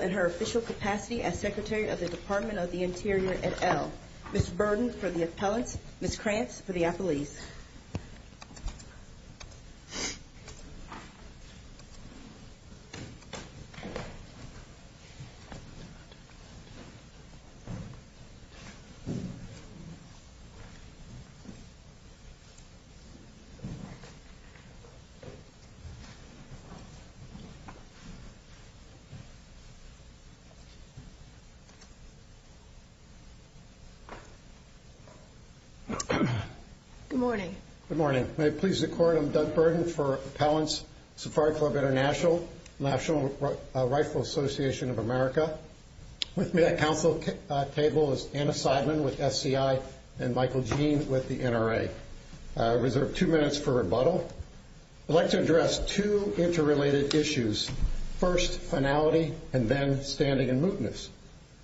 and her official capacity as Secretary of the Department of the Interior et al. Ms. Burden for the appellants, Ms. Krantz for the appellees. Good morning. Good morning. May it please the Court, I'm Doug Burden for Appellants, Safari Club International, National Rifle Association of America. With me at Council table is Anna Seidman with SCI and Michael Jean with the NRA. I reserve two minutes for rebuttal. I'd like to address two interrelated issues. First, finality and then standing and mootness.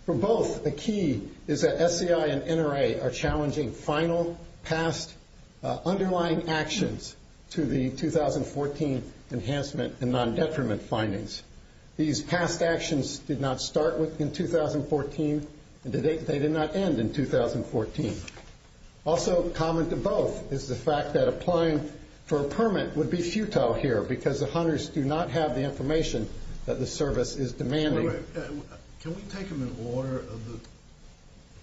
For both, the key is that SCI and NRA are challenging final, past, underlying actions to the 2014 enhancement and non-detriment findings. These past actions did not start in 2014 and they did not end in 2014. Also common to both is the fact that applying for a permit would be futile here because the hunters do not have the information that the service is demanding. Can we take them in order? If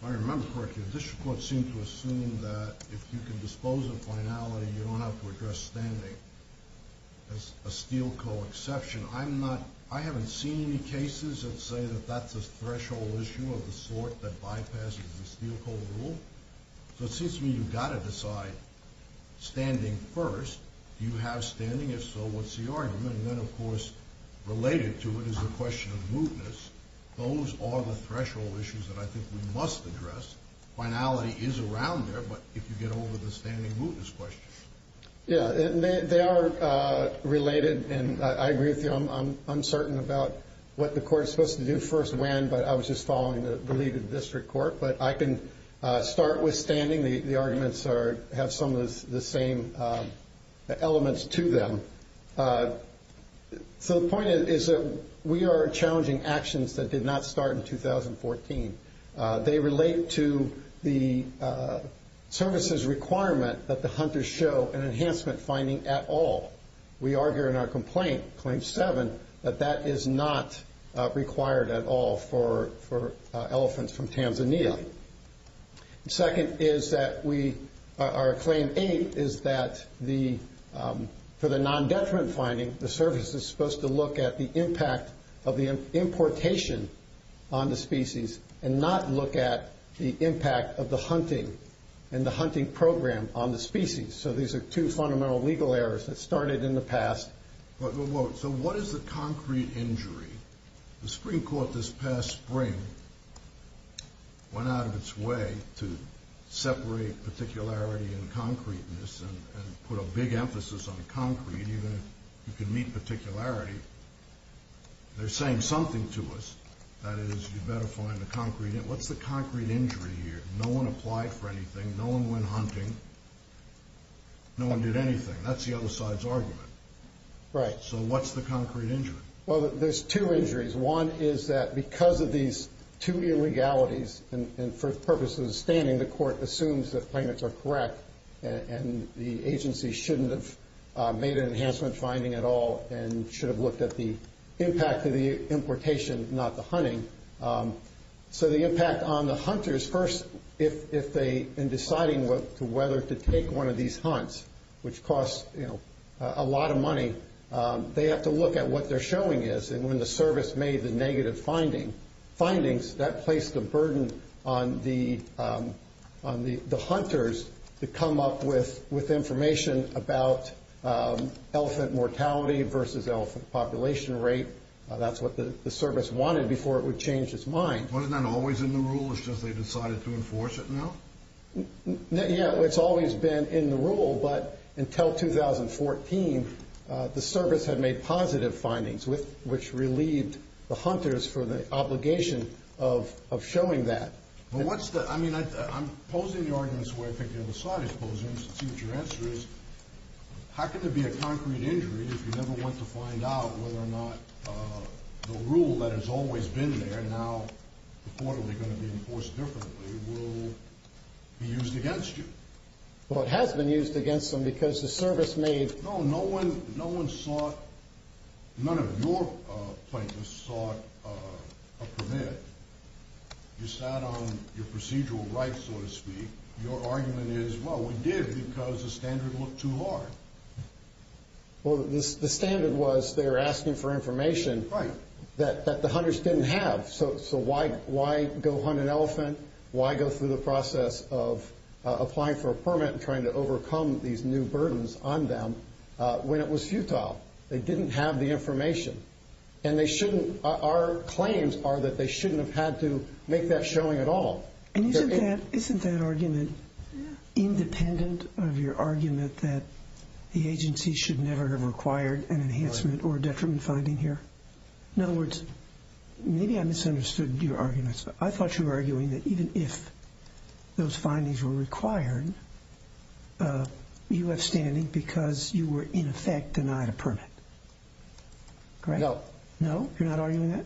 I remember correctly, the District Court seemed to assume that if you can dispose of finality, you don't have to address standing. As a Steel Co. exception, I haven't seen any cases that say that that's a threshold issue of the sort that bypasses the Steel Co. rule. So it seems to me you've got to decide standing first. Do you have standing? If so, what's the argument? And then, of course, related to it is the question of mootness. Those are the threshold issues that I think we must address. Finality is around there, but if you get over the standing, mootness question. Yeah, they are related, and I agree with you. I'm uncertain about what the Court is supposed to do first when, but I was just following the lead of the District Court. But I can start with standing. The arguments have some of the same elements to them. So the point is that we are challenging actions that did not start in 2014. They relate to the services requirement that the hunters show an enhancement finding at all. We argue in our complaint, Claim 7, that that is not required at all for elephants from Tanzania. And second is that we, our Claim 8, is that for the non-detriment finding, the service is supposed to look at the impact of the importation on the species and not look at the impact of the hunting and the hunting program on the species. So these are two fundamental legal errors that started in the past. So what is the concrete injury? The Supreme Court this past spring went out of its way to separate particularity and concreteness and put a big emphasis on concrete, even if you can meet particularity. They're saying something to us. That is, you better find the concrete. What's the concrete injury here? No one applied for anything. No one went hunting. No one did anything. That's the other side's argument. Right. So what's the concrete injury? Well, there's two injuries. One is that because of these two illegalities, and for the purpose of the standing, the court assumes that claimants are correct and the agency shouldn't have made an enhancement finding at all and should have looked at the impact of the importation, not the hunting. So the impact on the hunters, first, in deciding whether to take one of these hunts, which costs a lot of money, they have to look at what they're showing is. And when the service made the negative findings, that placed a burden on the hunters to come up with information about elephant mortality versus elephant population rate. That's what the service wanted before it would change its mind. Wasn't that always in the rule? It's just they decided to enforce it now? Yeah, it's always been in the rule. But until 2014, the service had made positive findings, which relieved the hunters from the obligation of showing that. I mean, I'm posing the arguments the way I think the other side is posing them to see what your answer is. How can there be a concrete injury if you never went to find out whether or not the rule that has always been there, now reportedly going to be enforced differently, will be used against you? Well, it has been used against them because the service made— No, no one sought—none of your plaintiffs sought a permit. You sat on your procedural rights, so to speak. Your argument is, well, we did because the standard looked too hard. Well, the standard was they were asking for information that the hunters didn't have. So why go hunt an elephant? Why go through the process of applying for a permit and trying to overcome these new burdens on them when it was futile? They didn't have the information. And they shouldn't—our claims are that they shouldn't have had to make that showing at all. And isn't that argument independent of your argument that the agency should never have required an enhancement or detriment finding here? In other words, maybe I misunderstood your arguments. I thought you were arguing that even if those findings were required, you left standing because you were, in effect, denied a permit. No. No? You're not arguing that?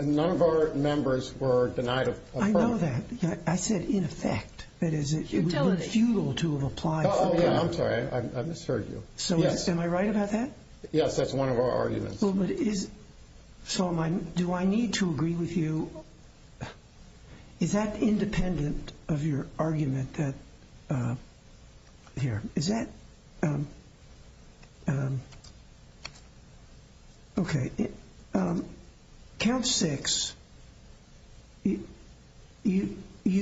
None of our members were denied a permit. I know that. I said in effect. That is, it would be futile to have applied for a permit. Oh, yeah, I'm sorry. I misheard you. So am I right about that? Yes, that's one of our arguments. Well, but is—so am I—do I need to agree with you? Is that independent of your argument that—here. Is that—okay. Count six, you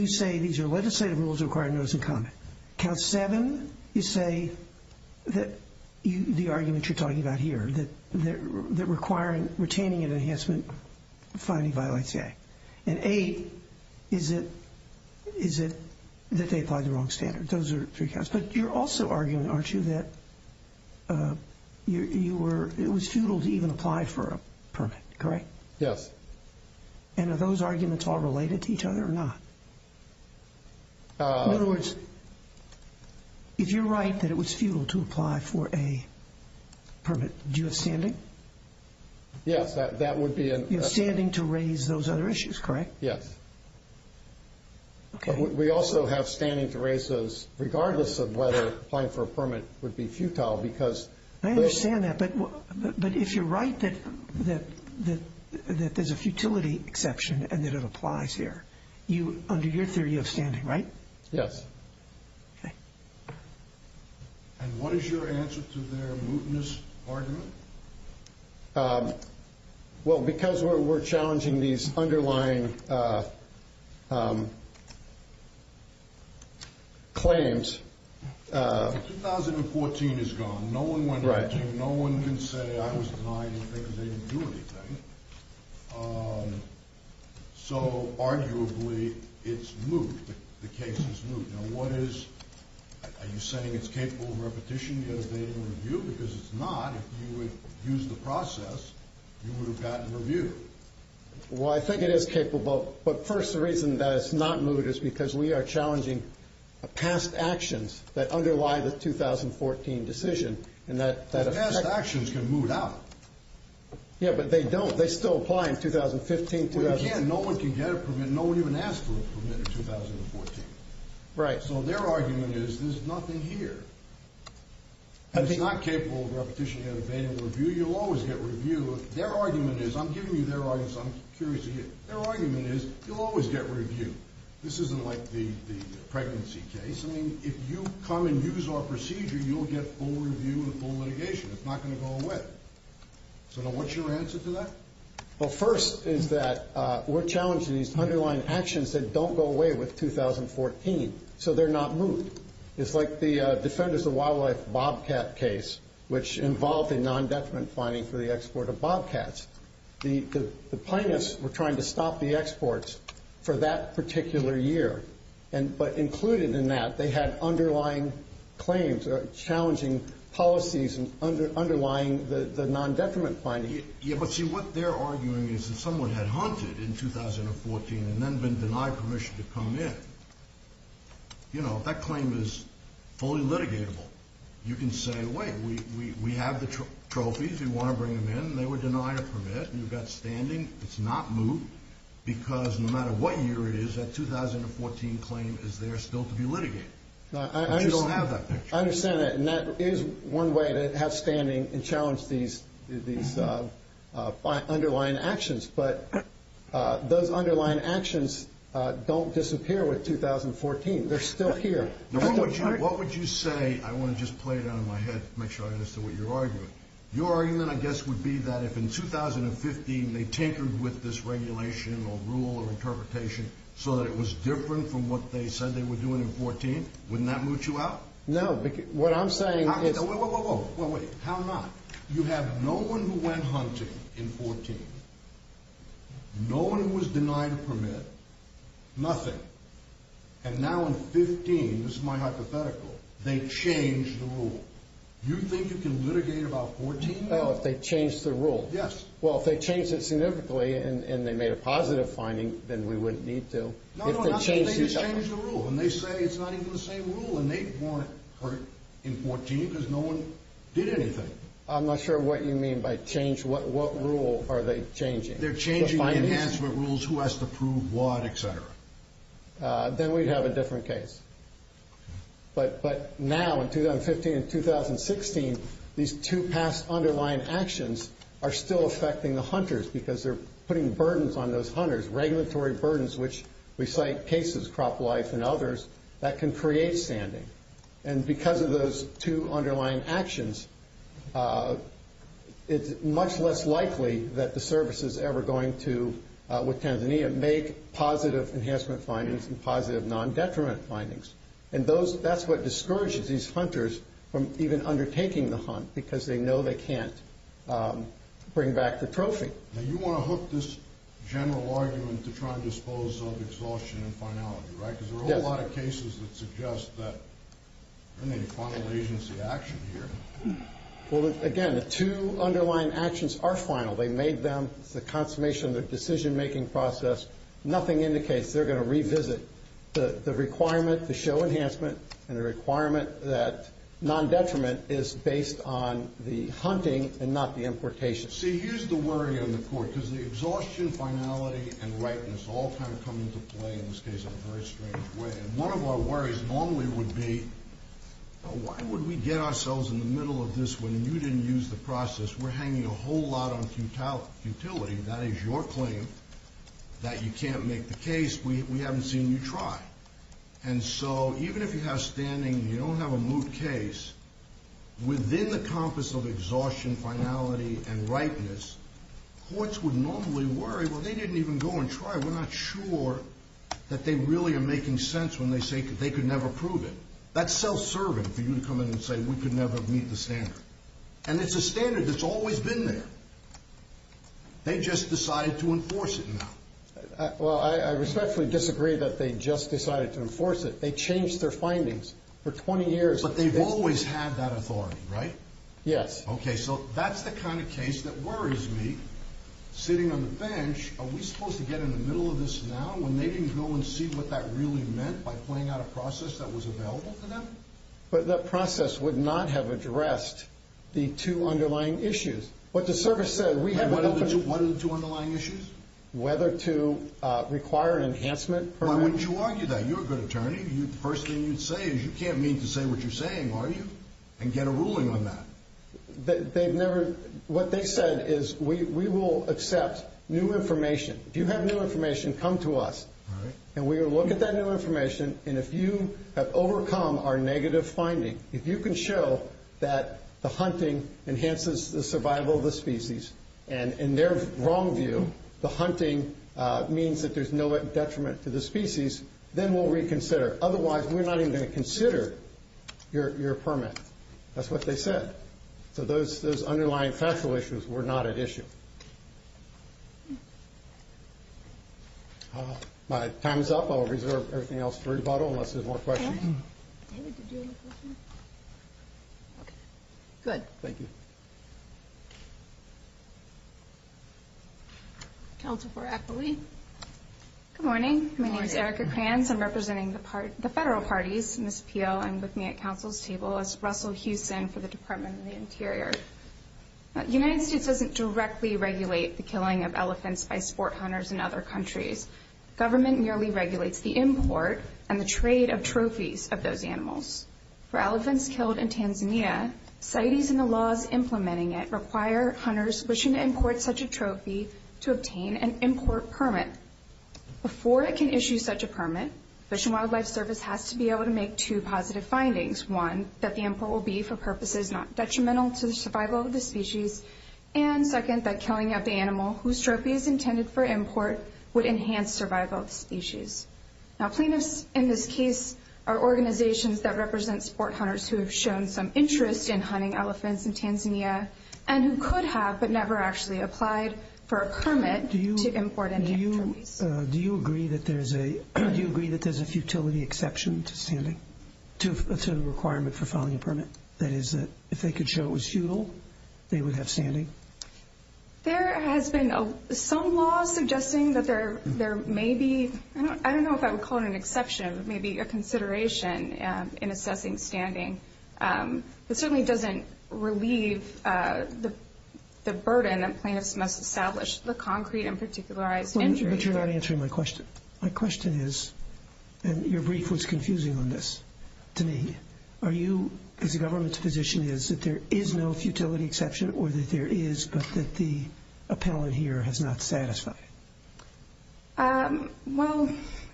say these are legislative rules that require notice and comment. Count seven, you say that the argument you're talking about here, that requiring—retaining an enhancement finding violates the Act. And eight, is it that they apply the wrong standard? Those are three counts. But you're also arguing, aren't you, that you were—it was futile to even apply for a permit, correct? Yes. And are those arguments all related to each other or not? In other words, if you're right that it was futile to apply for a permit, do you have standing? Yes, that would be an— You have standing to raise those other issues, correct? Yes. Okay. We also have standing to raise those, regardless of whether applying for a permit would be futile, because— I understand that. But if you're right that there's a futility exception and that it applies here, under your theory of standing, right? Yes. Okay. And what is your answer to their mootness argument? Well, because we're challenging these underlying claims— 2014 is gone. No one went back in. No one can say, I was denying anything because they didn't do anything. So, arguably, it's moot. The case is moot. Now, what is—are you saying it's capable of repetition? Because it's not. If you would have used the process, you would have gotten review. Well, I think it is capable. But, first, the reason that it's not moot is because we are challenging past actions that underlie the 2014 decision. But past actions can moot out. Yeah, but they don't. They still apply in 2015, 2014. Well, you can't. No one can get a permit. No one even asked for a permit in 2014. Right. So, their argument is there's nothing here. And it's not capable of repetition and evading review. You'll always get review. Their argument is—I'm giving you their argument, so I'm curious to hear—their argument is you'll always get review. This isn't like the pregnancy case. I mean, if you come and use our procedure, you'll get full review and full litigation. It's not going to go away. So, now, what's your answer to that? Well, first is that we're challenging these underlying actions that don't go away with 2014. So, they're not moot. It's like the Defenders of Wildlife bobcat case, which involved a non-detriment finding for the export of bobcats. The plaintiffs were trying to stop the exports for that particular year. But included in that, they had underlying claims or challenging policies underlying the non-detriment finding. Yeah, but see, what they're arguing is that someone had hunted in 2014 and then been denied permission to come in. You know, that claim is fully litigatable. You can say, wait, we have the trophies. We want to bring them in. They were denied a permit. You've got standing. It's not moot because no matter what year it is, that 2014 claim is there still to be litigated. But you don't have that picture. I understand that. And that is one way to have standing and challenge these underlying actions. But those underlying actions don't disappear with 2014. They're still here. What would you say? I want to just play it out in my head to make sure I understand what you're arguing. Your argument, I guess, would be that if in 2015 they tinkered with this regulation or rule or interpretation so that it was different from what they said they were doing in 2014, wouldn't that moot you out? No. What I'm saying is... Wait, wait, wait. How not? You have no one who went hunting in 2014, no one who was denied a permit, nothing. And now in 2015, this is my hypothetical, they changed the rule. You think you can litigate about 14 years? Oh, if they changed the rule? Yes. Well, if they changed it significantly and they made a positive finding, then we wouldn't need to. No, no, no. They just changed the rule. And they say it's not even the same rule, and they want it in 2014 because no one did anything. I'm not sure what you mean by change. What rule are they changing? They're changing the enhancement rules, who has to prove what, et cetera. Then we'd have a different case. But now, in 2015 and 2016, these two past underlying actions are still affecting the hunters because they're putting burdens on those hunters, regulatory burdens which recite cases, crop life and others, that can create sanding. And because of those two underlying actions, it's much less likely that the services ever going to, with Tanzania, make positive enhancement findings and positive non-detriment findings. And that's what discourages these hunters from even undertaking the hunt because they know they can't bring back the trophy. Now, you want to hook this general argument to try and dispose of exhaustion and finality, right? Because there are a lot of cases that suggest that there isn't any final agency action here. Well, again, the two underlying actions are final. They made them. It's the consummation of the decision-making process. Nothing indicates they're going to revisit the requirement to show enhancement and the requirement that non-detriment is based on the hunting and not the importation. See, here's the worry on the court, because the exhaustion, finality and ripeness all kind of come into play in this case in a very strange way. And one of our worries normally would be, why would we get ourselves in the middle of this when you didn't use the process? We're hanging a whole lot on futility. That is your claim that you can't make the case. We haven't seen you try. And so even if you have standing and you don't have a moot case, within the compass of exhaustion, finality and ripeness, courts would normally worry, well, they didn't even go and try. We're not sure that they really are making sense when they say they could never prove it. That's self-serving for you to come in and say we could never meet the standard. And it's a standard that's always been there. They just decided to enforce it now. Well, I respectfully disagree that they just decided to enforce it. They changed their findings for 20 years. But they've always had that authority, right? Yes. Okay, so that's the kind of case that worries me. Sitting on the bench, are we supposed to get in the middle of this now when they didn't go and see what that really meant by playing out a process that was available to them? But that process would not have addressed the two underlying issues. What the service said, we have an open— What are the two underlying issues? Whether to require an enhancement permit. Why would you argue that? You're a good attorney. The first thing you'd say is you can't mean to say what you're saying, are you? And get a ruling on that. They've never—what they said is we will accept new information. If you have new information, come to us. All right. And we will look at that new information. And if you have overcome our negative finding, if you can show that the hunting enhances the survival of the species and, in their wrong view, the hunting means that there's no detriment to the species, then we'll reconsider. Otherwise, we're not even going to consider your permit. That's what they said. So those underlying factual issues were not at issue. My time is up. I'll reserve everything else for rebuttal unless there's more questions. David, did you have a question? Okay. Good. Thank you. Counsel for Eppley. Good morning. My name is Erica Kranz. I'm representing the federal parties. Ms. Peele, I'm with me at counsel's table. This is Russell Hewson for the Department of the Interior. The United States doesn't directly regulate the killing of elephants by sport hunters in other countries. Government merely regulates the import and the trade of trophies of those animals. For elephants killed in Tanzania, CITES and the laws implementing it require hunters wishing to import such a trophy to obtain an import permit. Before it can issue such a permit, Fish and Wildlife Service has to be able to make two positive findings, one, that the import will be for purposes not detrimental to the survival of the species, and, second, that killing of the animal whose trophy is intended for import would enhance survival of the species. Now, plaintiffs in this case are organizations that represent sport hunters who have shown some interest in hunting elephants in Tanzania and who could have but never actually applied for a permit to import any trophies. Do you agree that there's a futility exception to the requirement for filing a permit? That is, if they could show it was futile, they would have standing? There has been some law suggesting that there may be, I don't know if I would call it an exception, maybe a consideration in assessing standing. It certainly doesn't relieve the burden that plaintiffs must establish, the concrete and particularized injury. But you're not answering my question. My question is, and your brief was confusing on this to me, are you, as the government's position is, that there is no futility exception, or that there is but that the appellant here has not satisfied? Well,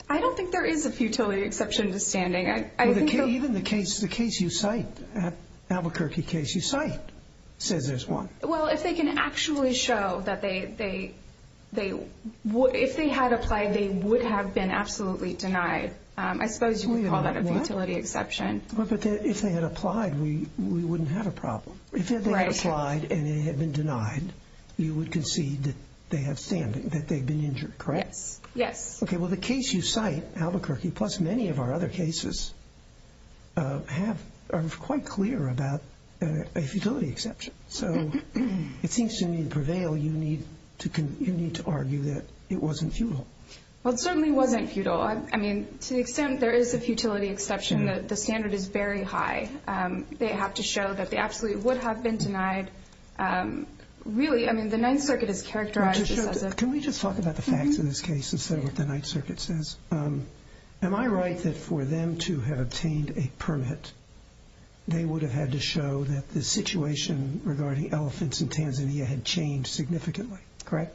I don't think there is a futility exception to standing. Even the case you cite, the Albuquerque case you cite, says there's one. Well, if they can actually show that they, if they had applied, they would have been absolutely denied. I suppose you could call that a futility exception. But if they had applied, we wouldn't have a problem. If they had applied and they had been denied, you would concede that they have standing, that they've been injured, correct? Yes. Okay, well, the case you cite, Albuquerque, plus many of our other cases, are quite clear about a futility exception. So it seems to me to prevail, you need to argue that it wasn't futile. Well, it certainly wasn't futile. I mean, to the extent there is a futility exception, the standard is very high. They have to show that they absolutely would have been denied. Really, I mean, the Ninth Circuit has characterized this as a Can we just talk about the facts of this case instead of what the Ninth Circuit says? Am I right that for them to have obtained a permit, they would have had to show that the situation regarding elephants in Tanzania had changed significantly, correct?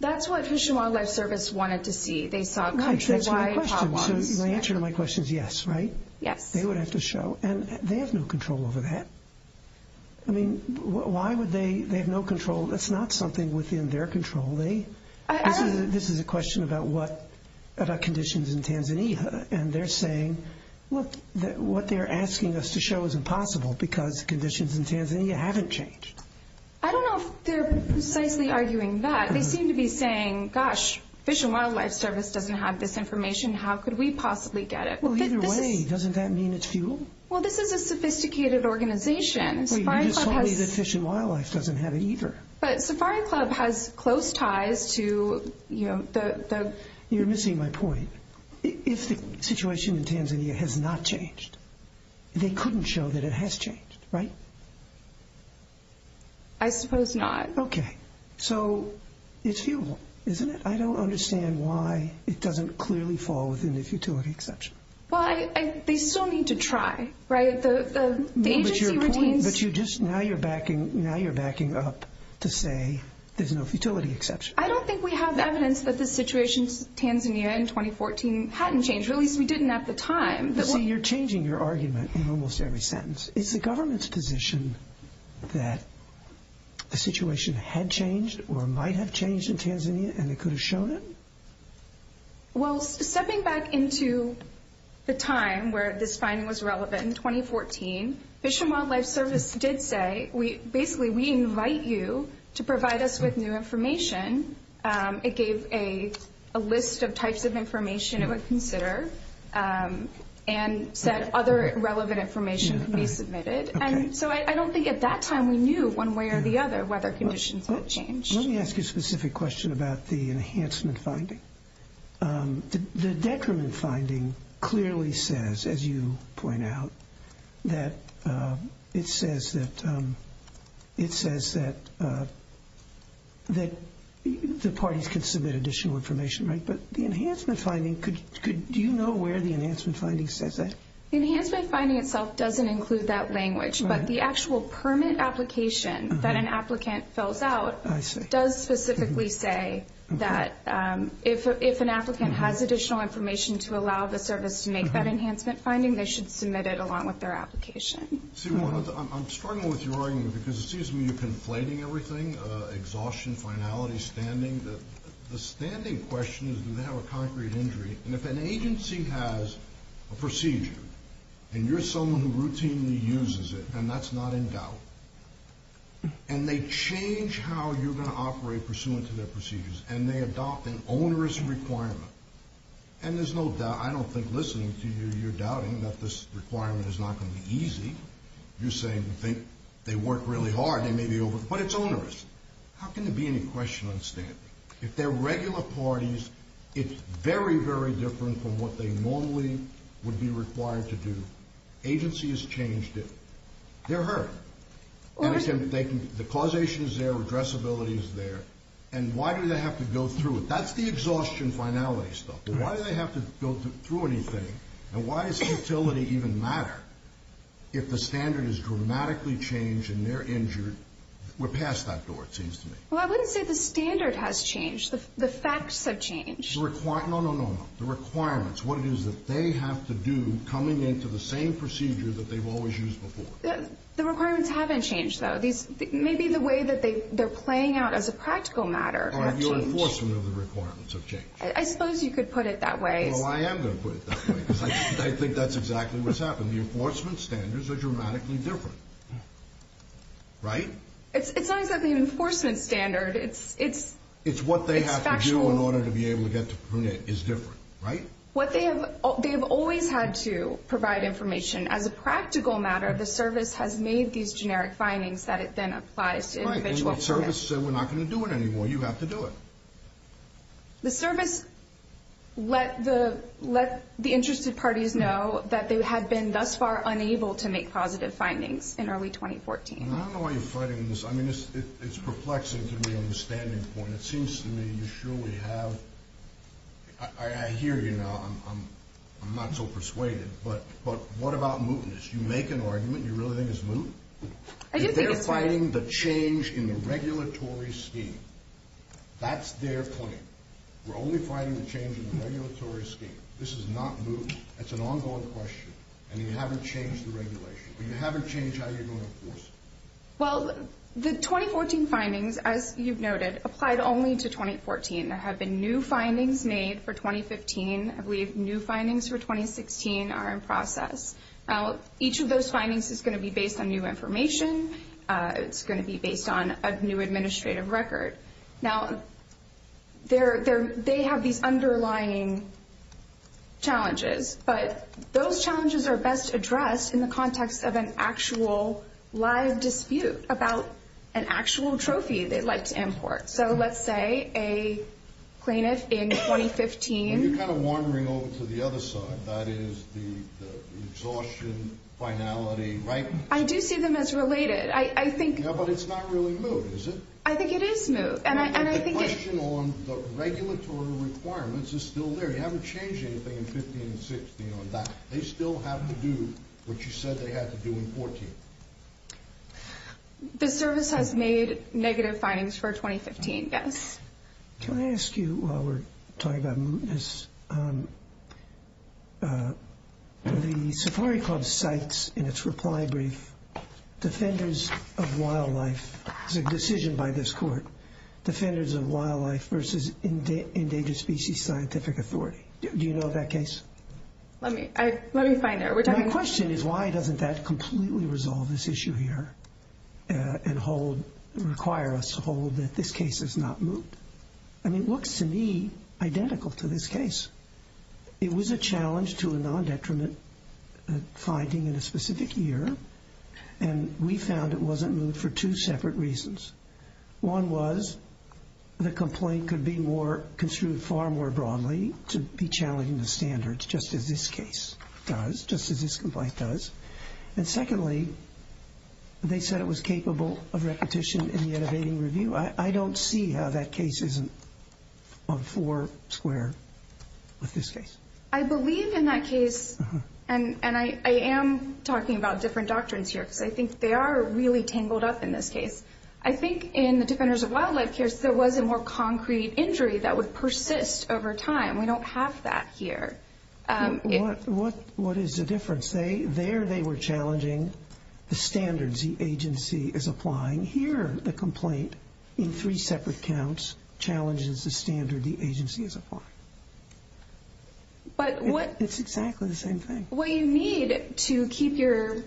That's what Fish and Wildlife Service wanted to see. They saw country-wide problems. So the answer to my question is yes, right? Yes. They would have to show, and they have no control over that. I mean, why would they have no control? That's not something within their control. This is a question about conditions in Tanzania, and they're saying, look, what they're asking us to show is impossible because conditions in Tanzania haven't changed. I don't know if they're precisely arguing that. They seem to be saying, gosh, Fish and Wildlife Service doesn't have this information. How could we possibly get it? Well, either way, doesn't that mean it's fuel? Well, this is a sophisticated organization. You just told me that Fish and Wildlife doesn't have it either. But Safari Club has close ties to the You're missing my point. If the situation in Tanzania has not changed, they couldn't show that it has changed, right? I suppose not. Okay. So it's fuel, isn't it? I don't understand why it doesn't clearly fall within the futility exception. Well, they still need to try, right? The agency retains But now you're backing up to say there's no futility exception. I don't think we have evidence that the situation in Tanzania in 2014 hadn't changed, or at least we didn't at the time. See, you're changing your argument in almost every sentence. Is the government's position that the situation had changed or might have changed in Tanzania and it could have shown it? Well, stepping back into the time where this finding was relevant, in 2014, Fish and Wildlife Service did say, basically, we invite you to provide us with new information. It gave a list of types of information it would consider and said other relevant information can be submitted. So I don't think at that time we knew one way or the other whether conditions had changed. Let me ask you a specific question about the enhancement finding. The detriment finding clearly says, as you point out, that it says that the parties can submit additional information, right? Do you know where the enhancement finding says that? Enhancement finding itself doesn't include that language. But the actual permit application that an applicant fills out does specifically say that if an applicant has additional information to allow the service to make that enhancement finding, they should submit it along with their application. I'm struggling with your argument because it seems to me you're conflating everything, exhaustion, finality, standing. The standing question is, do they have a concrete injury? And if an agency has a procedure and you're someone who routinely uses it, and that's not in doubt, and they change how you're going to operate pursuant to their procedures and they adopt an onerous requirement, and there's no doubt, I don't think listening to you, you're doubting that this requirement is not going to be easy. You're saying you think they work really hard, they may be over, but it's onerous. How can there be any question on standing? If they're regular parties, it's very, very different from what they normally would be required to do. Agency has changed it. They're hurt. The causation is there, addressability is there, and why do they have to go through it? That's the exhaustion finality stuff. Why do they have to go through anything, and why does utility even matter? If the standard has dramatically changed and they're injured, we're past that door, it seems to me. Well, I wouldn't say the standard has changed. The facts have changed. No, no, no, no. The requirements, what it is that they have to do coming into the same procedure that they've always used before. The requirements haven't changed, though. Maybe the way that they're playing out as a practical matter has changed. Or your enforcement of the requirements have changed. I suppose you could put it that way. The enforcement standards are dramatically different, right? It's not exactly an enforcement standard. It's factual. It's what they have to do in order to be able to get to Prunette is different, right? They have always had to provide information. As a practical matter, the service has made these generic findings that it then applies to individual fairness. Right, and the service said we're not going to do it anymore. You have to do it. The service let the interested parties know that they had been thus far unable to make positive findings in early 2014. I don't know why you're fighting this. I mean, it's perplexing to me on the standing point. It seems to me you surely have. I hear you now. I'm not so persuaded. But what about mootness? You make an argument you really think is moot? I do think it's moot. They're fighting the change in the regulatory scheme. That's their point. We're only fighting the change in the regulatory scheme. This is not moot. That's an ongoing question. And you haven't changed the regulation. You haven't changed how you're going to enforce it. Well, the 2014 findings, as you've noted, applied only to 2014. There have been new findings made for 2015. I believe new findings for 2016 are in process. Now, each of those findings is going to be based on new information. It's going to be based on a new administrative record. Now, they have these underlying challenges, but those challenges are best addressed in the context of an actual live dispute about an actual trophy they'd like to import. So let's say a plaintiff in 2015. You're kind of wandering over to the other side. That is the exhaustion, finality, right? I do see them as related. Yeah, but it's not really moot, is it? I think it is moot. But the question on the regulatory requirements is still there. You haven't changed anything in 2015 and 2016 on that. They still have to do what you said they had to do in 2014. The service has made negative findings for 2015, yes. Can I ask you, while we're talking about mootness, the Safari Club cites in its reply brief defenders of wildlife as a decision by this court, defenders of wildlife versus endangered species scientific authority. Do you know of that case? Let me find out. My question is why doesn't that completely resolve this issue here and require us to hold that this case is not moot? I mean, it looks to me identical to this case. It was a challenge to a nondetriment finding in a specific year, and we found it wasn't moot for two separate reasons. One was the complaint could be construed far more broadly to be challenging the standards, just as this case does, just as this complaint does. And secondly, they said it was capable of repetition in the innovating review. I don't see how that case isn't on four square with this case. I believe in that case, and I am talking about different doctrines here because I think they are really tangled up in this case. I think in the defenders of wildlife case there was a more concrete injury that would persist over time. We don't have that here. What is the difference? There they were challenging the standards the agency is applying. Here the complaint in three separate counts challenges the standard the agency is applying. It's exactly the same thing. What you need to keep your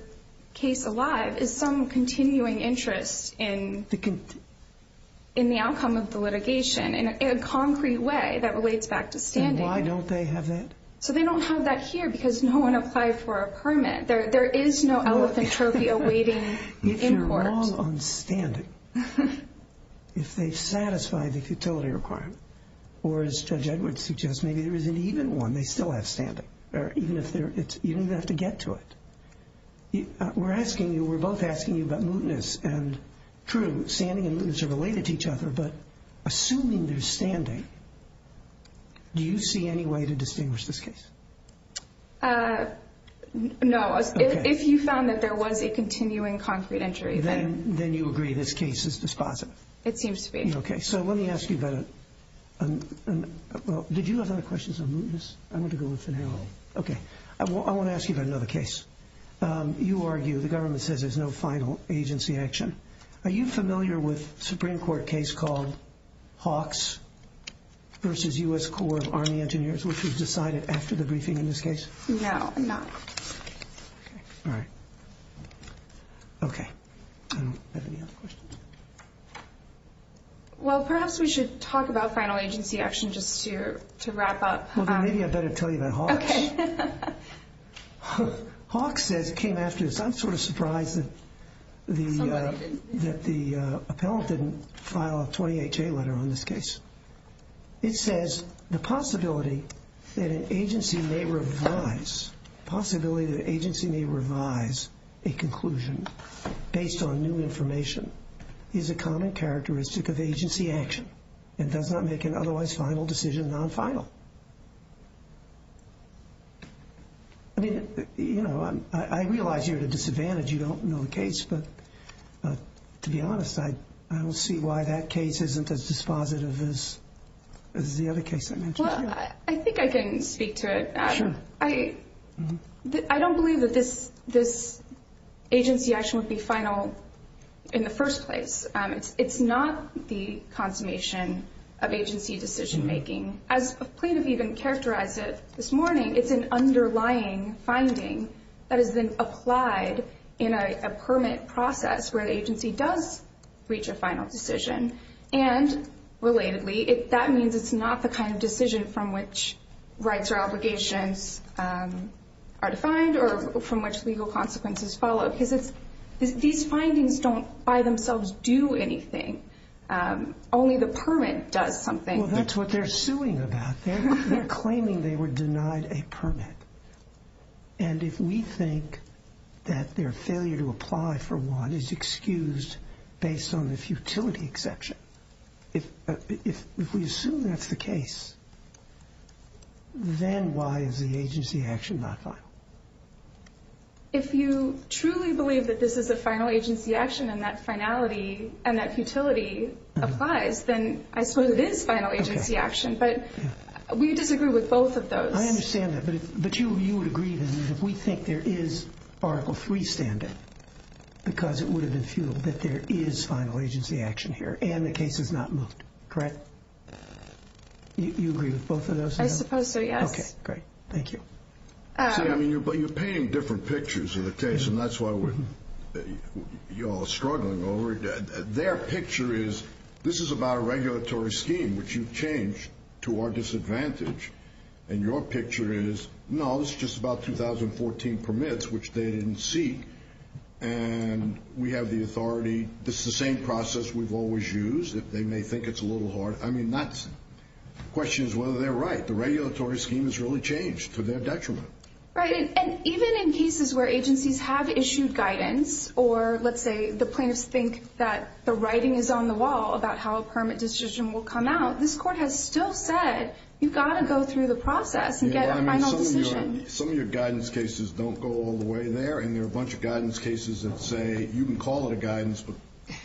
case alive is some continuing interest in the outcome of the litigation in a concrete way that relates back to standing. And why don't they have that? So they don't have that here because no one applied for a permit. There is no elephant trophy awaiting import. If you're wrong on standing, if they satisfy the futility requirement, or as Judge Edwards suggests, maybe there is an even one, they still have standing, even if they have to get to it. We're asking you, we're both asking you about mootness, and true, Do you see any way to distinguish this case? No. If you found that there was a continuing concrete injury, then... Then you agree this case is dispositive. It seems to be. Okay. So let me ask you about it. Did you have other questions on mootness? No. Okay. I want to ask you about another case. You argue the government says there's no final agency action. Are you familiar with a Supreme Court case called Hawks versus U.S. Corps of Army Engineers, which was decided after the briefing in this case? No, I'm not. All right. Okay. Do you have any other questions? Well, perhaps we should talk about final agency action just to wrap up. Well, then maybe I better tell you about Hawks. Okay. Hawks came after this. I'm sort of surprised that the appellant didn't file a 28-J letter on this case. It says the possibility that an agency may revise a conclusion based on new information is a common characteristic of agency action and does not make an otherwise final decision non-final. I mean, you know, I realize you're at a disadvantage. You don't know the case. But to be honest, I don't see why that case isn't as dispositive as the other case I mentioned. Well, I think I can speak to it. Sure. I don't believe that this agency action would be final in the first place. It's not the consummation of agency decision-making. As plaintiff even characterized it this morning, it's an underlying finding that has been applied in a permit process where the agency does reach a final decision. And relatedly, that means it's not the kind of decision from which rights or obligations are defined or from which legal consequences follow. Because these findings don't by themselves do anything. Only the permit does something. Well, that's what they're suing about. They're claiming they were denied a permit. And if we think that their failure to apply for one is excused based on the futility exception, if we assume that's the case, then why is the agency action not final? If you truly believe that this is a final agency action and that finality and that futility applies, then I suppose it is final agency action. But we disagree with both of those. I understand that. But you would agree that if we think there is Article III standing because it would have been futile, that there is final agency action here and the case is not moved, correct? You agree with both of those? I suppose so, yes. Okay, great. Thank you. See, I mean, you're painting different pictures of the case, and that's why we're struggling over it. Their picture is this is about a regulatory scheme, which you've changed to our disadvantage. And your picture is, no, this is just about 2014 permits, which they didn't seek. And we have the authority. This is the same process we've always used. They may think it's a little hard. I mean, the question is whether they're right. The regulatory scheme has really changed to their detriment. Right, and even in cases where agencies have issued guidance or, let's say, the plaintiffs think that the writing is on the wall about how a permit decision will come out, this Court has still said you've got to go through the process and get a final decision. Some of your guidance cases don't go all the way there, and there are a bunch of guidance cases that say you can call it a guidance, but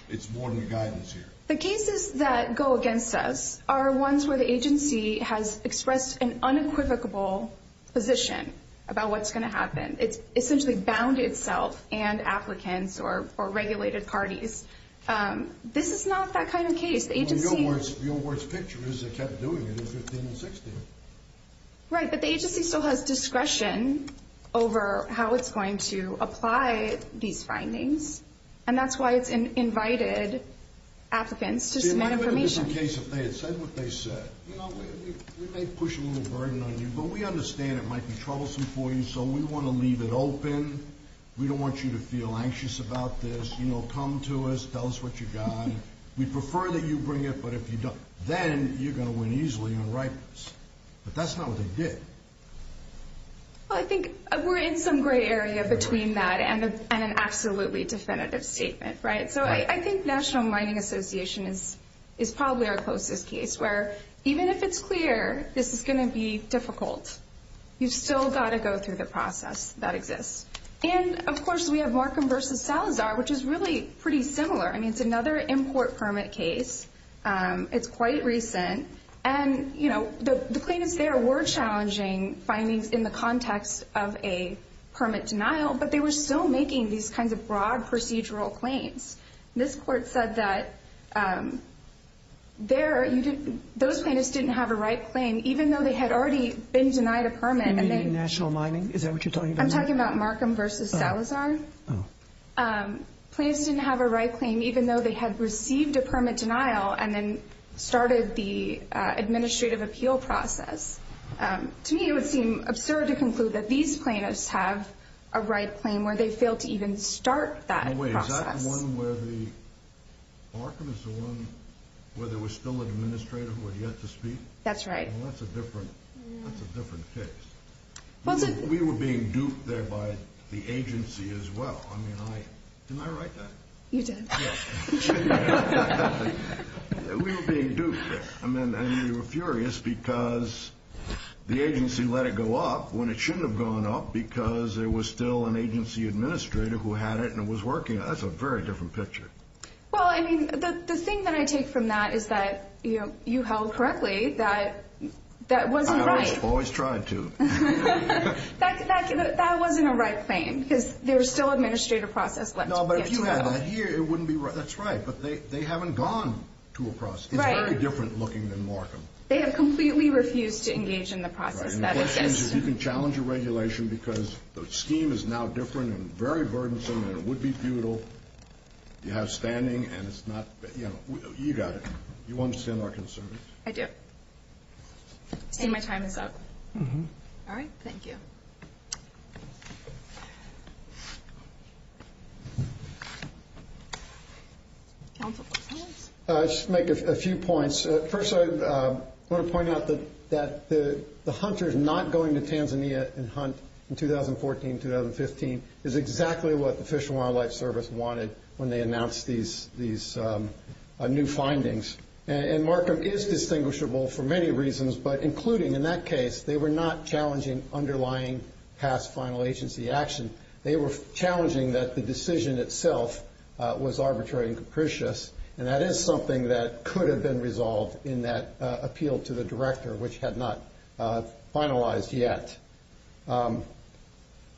it's more than a guidance here. The cases that go against us are ones where the agency has expressed an unequivocable position about what's going to happen. It's essentially bound itself and applicants or regulated parties. This is not that kind of case. Your worst picture is they kept doing it in 2015 and 2016. Right, but the agency still has discretion over how it's going to apply these findings, and that's why it's invited applicants to submit information. See, what if it was the case that they had said what they said? You know, we may push a little burden on you, but we understand it might be troublesome for you, so we want to leave it open. We don't want you to feel anxious about this. You know, come to us, tell us what you've got. We'd prefer that you bring it, but if you don't, then you're going to win easily on ripens. But that's not what they did. Well, I think we're in some gray area between that and an absolutely definitive statement, right? So I think National Mining Association is probably our closest case, where even if it's clear this is going to be difficult, you've still got to go through the process that exists. And, of course, we have Markham v. Salazar, which is really pretty similar. I mean, it's another import permit case. It's quite recent. And, you know, the plaintiffs there were challenging findings in the context of a permit denial, but they were still making these kinds of broad procedural claims. This court said that those plaintiffs didn't have a right claim, even though they had already been denied a permit. You mean in National Mining? Is that what you're talking about? I'm talking about Markham v. Salazar. Plaintiffs didn't have a right claim, even though they had received a permit denial and then started the administrative appeal process. To me, it would seem absurd to conclude that these plaintiffs have a right claim, where they failed to even start that process. In a way, is that the one where Markham is the one where there was still an administrator who had yet to speak? That's right. Well, that's a different case. We were being duped there by the agency as well. I mean, didn't I write that? You did. We were being duped there. I mean, we were furious because the agency let it go up when it shouldn't have gone up because there was still an agency administrator who had it and was working it. That's a very different picture. Well, I mean, the thing that I take from that is that you held correctly that that wasn't right. I always tried to. That wasn't a right claim because there was still an administrative process left. No, but if you had that here, it wouldn't be right. That's right, but they haven't gone to a process. It's very different looking than Markham. They have completely refused to engage in the process that exists. The question is if you can challenge a regulation because the scheme is now different and very burdensome and it would be futile. You have standing and it's not. You got it. You understand our concerns. I do. I see my time is up. All right. Thank you. Council questions? I'll just make a few points. First, I want to point out that the hunters not going to Tanzania and hunt in 2014, 2015, is exactly what the Fish and Wildlife Service wanted when they announced these new findings. And Markham is distinguishable for many reasons, but including in that case, they were not challenging underlying past final agency action. They were challenging that the decision itself was arbitrary and capricious, and that is something that could have been resolved in that appeal to the director, which had not finalized yet.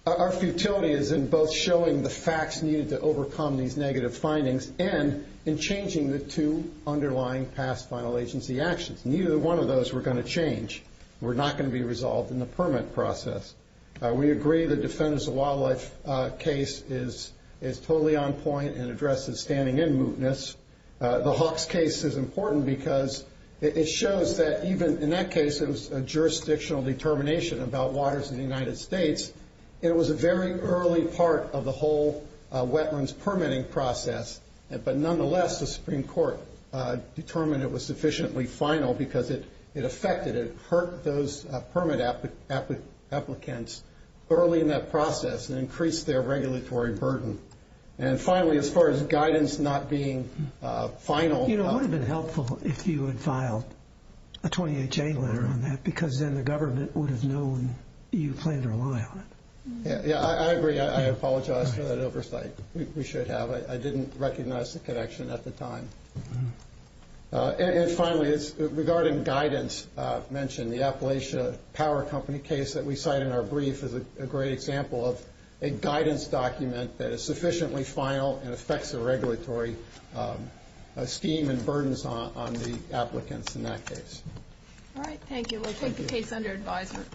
Our futility is in both showing the facts needed to overcome these negative findings and in changing the two underlying past final agency actions. Neither one of those we're going to change. We're not going to be resolved in the permit process. We agree the Defenders of Wildlife case is totally on point and addresses standing in mootness. The Hawks case is important because it shows that even in that case, it was a jurisdictional determination about waters in the United States. It was a very early part of the whole wetlands permitting process, but nonetheless the Supreme Court determined it was sufficiently final because it affected, it hurt those permit applicants early in that process and increased their regulatory burden. And finally, as far as guidance not being final. You know, it would have been helpful if you had filed a 28-J letter on that because then the government would have known you planned to rely on it. Yeah, I agree. I apologize for that oversight. We should have. I didn't recognize the connection at the time. And finally, regarding guidance mentioned, the Appalachia Power Company case that we cite in our brief is a great example of a guidance document that is sufficiently final and affects the regulatory scheme and burdens on the applicants in that case. All right, thank you. We'll take the case under advisement.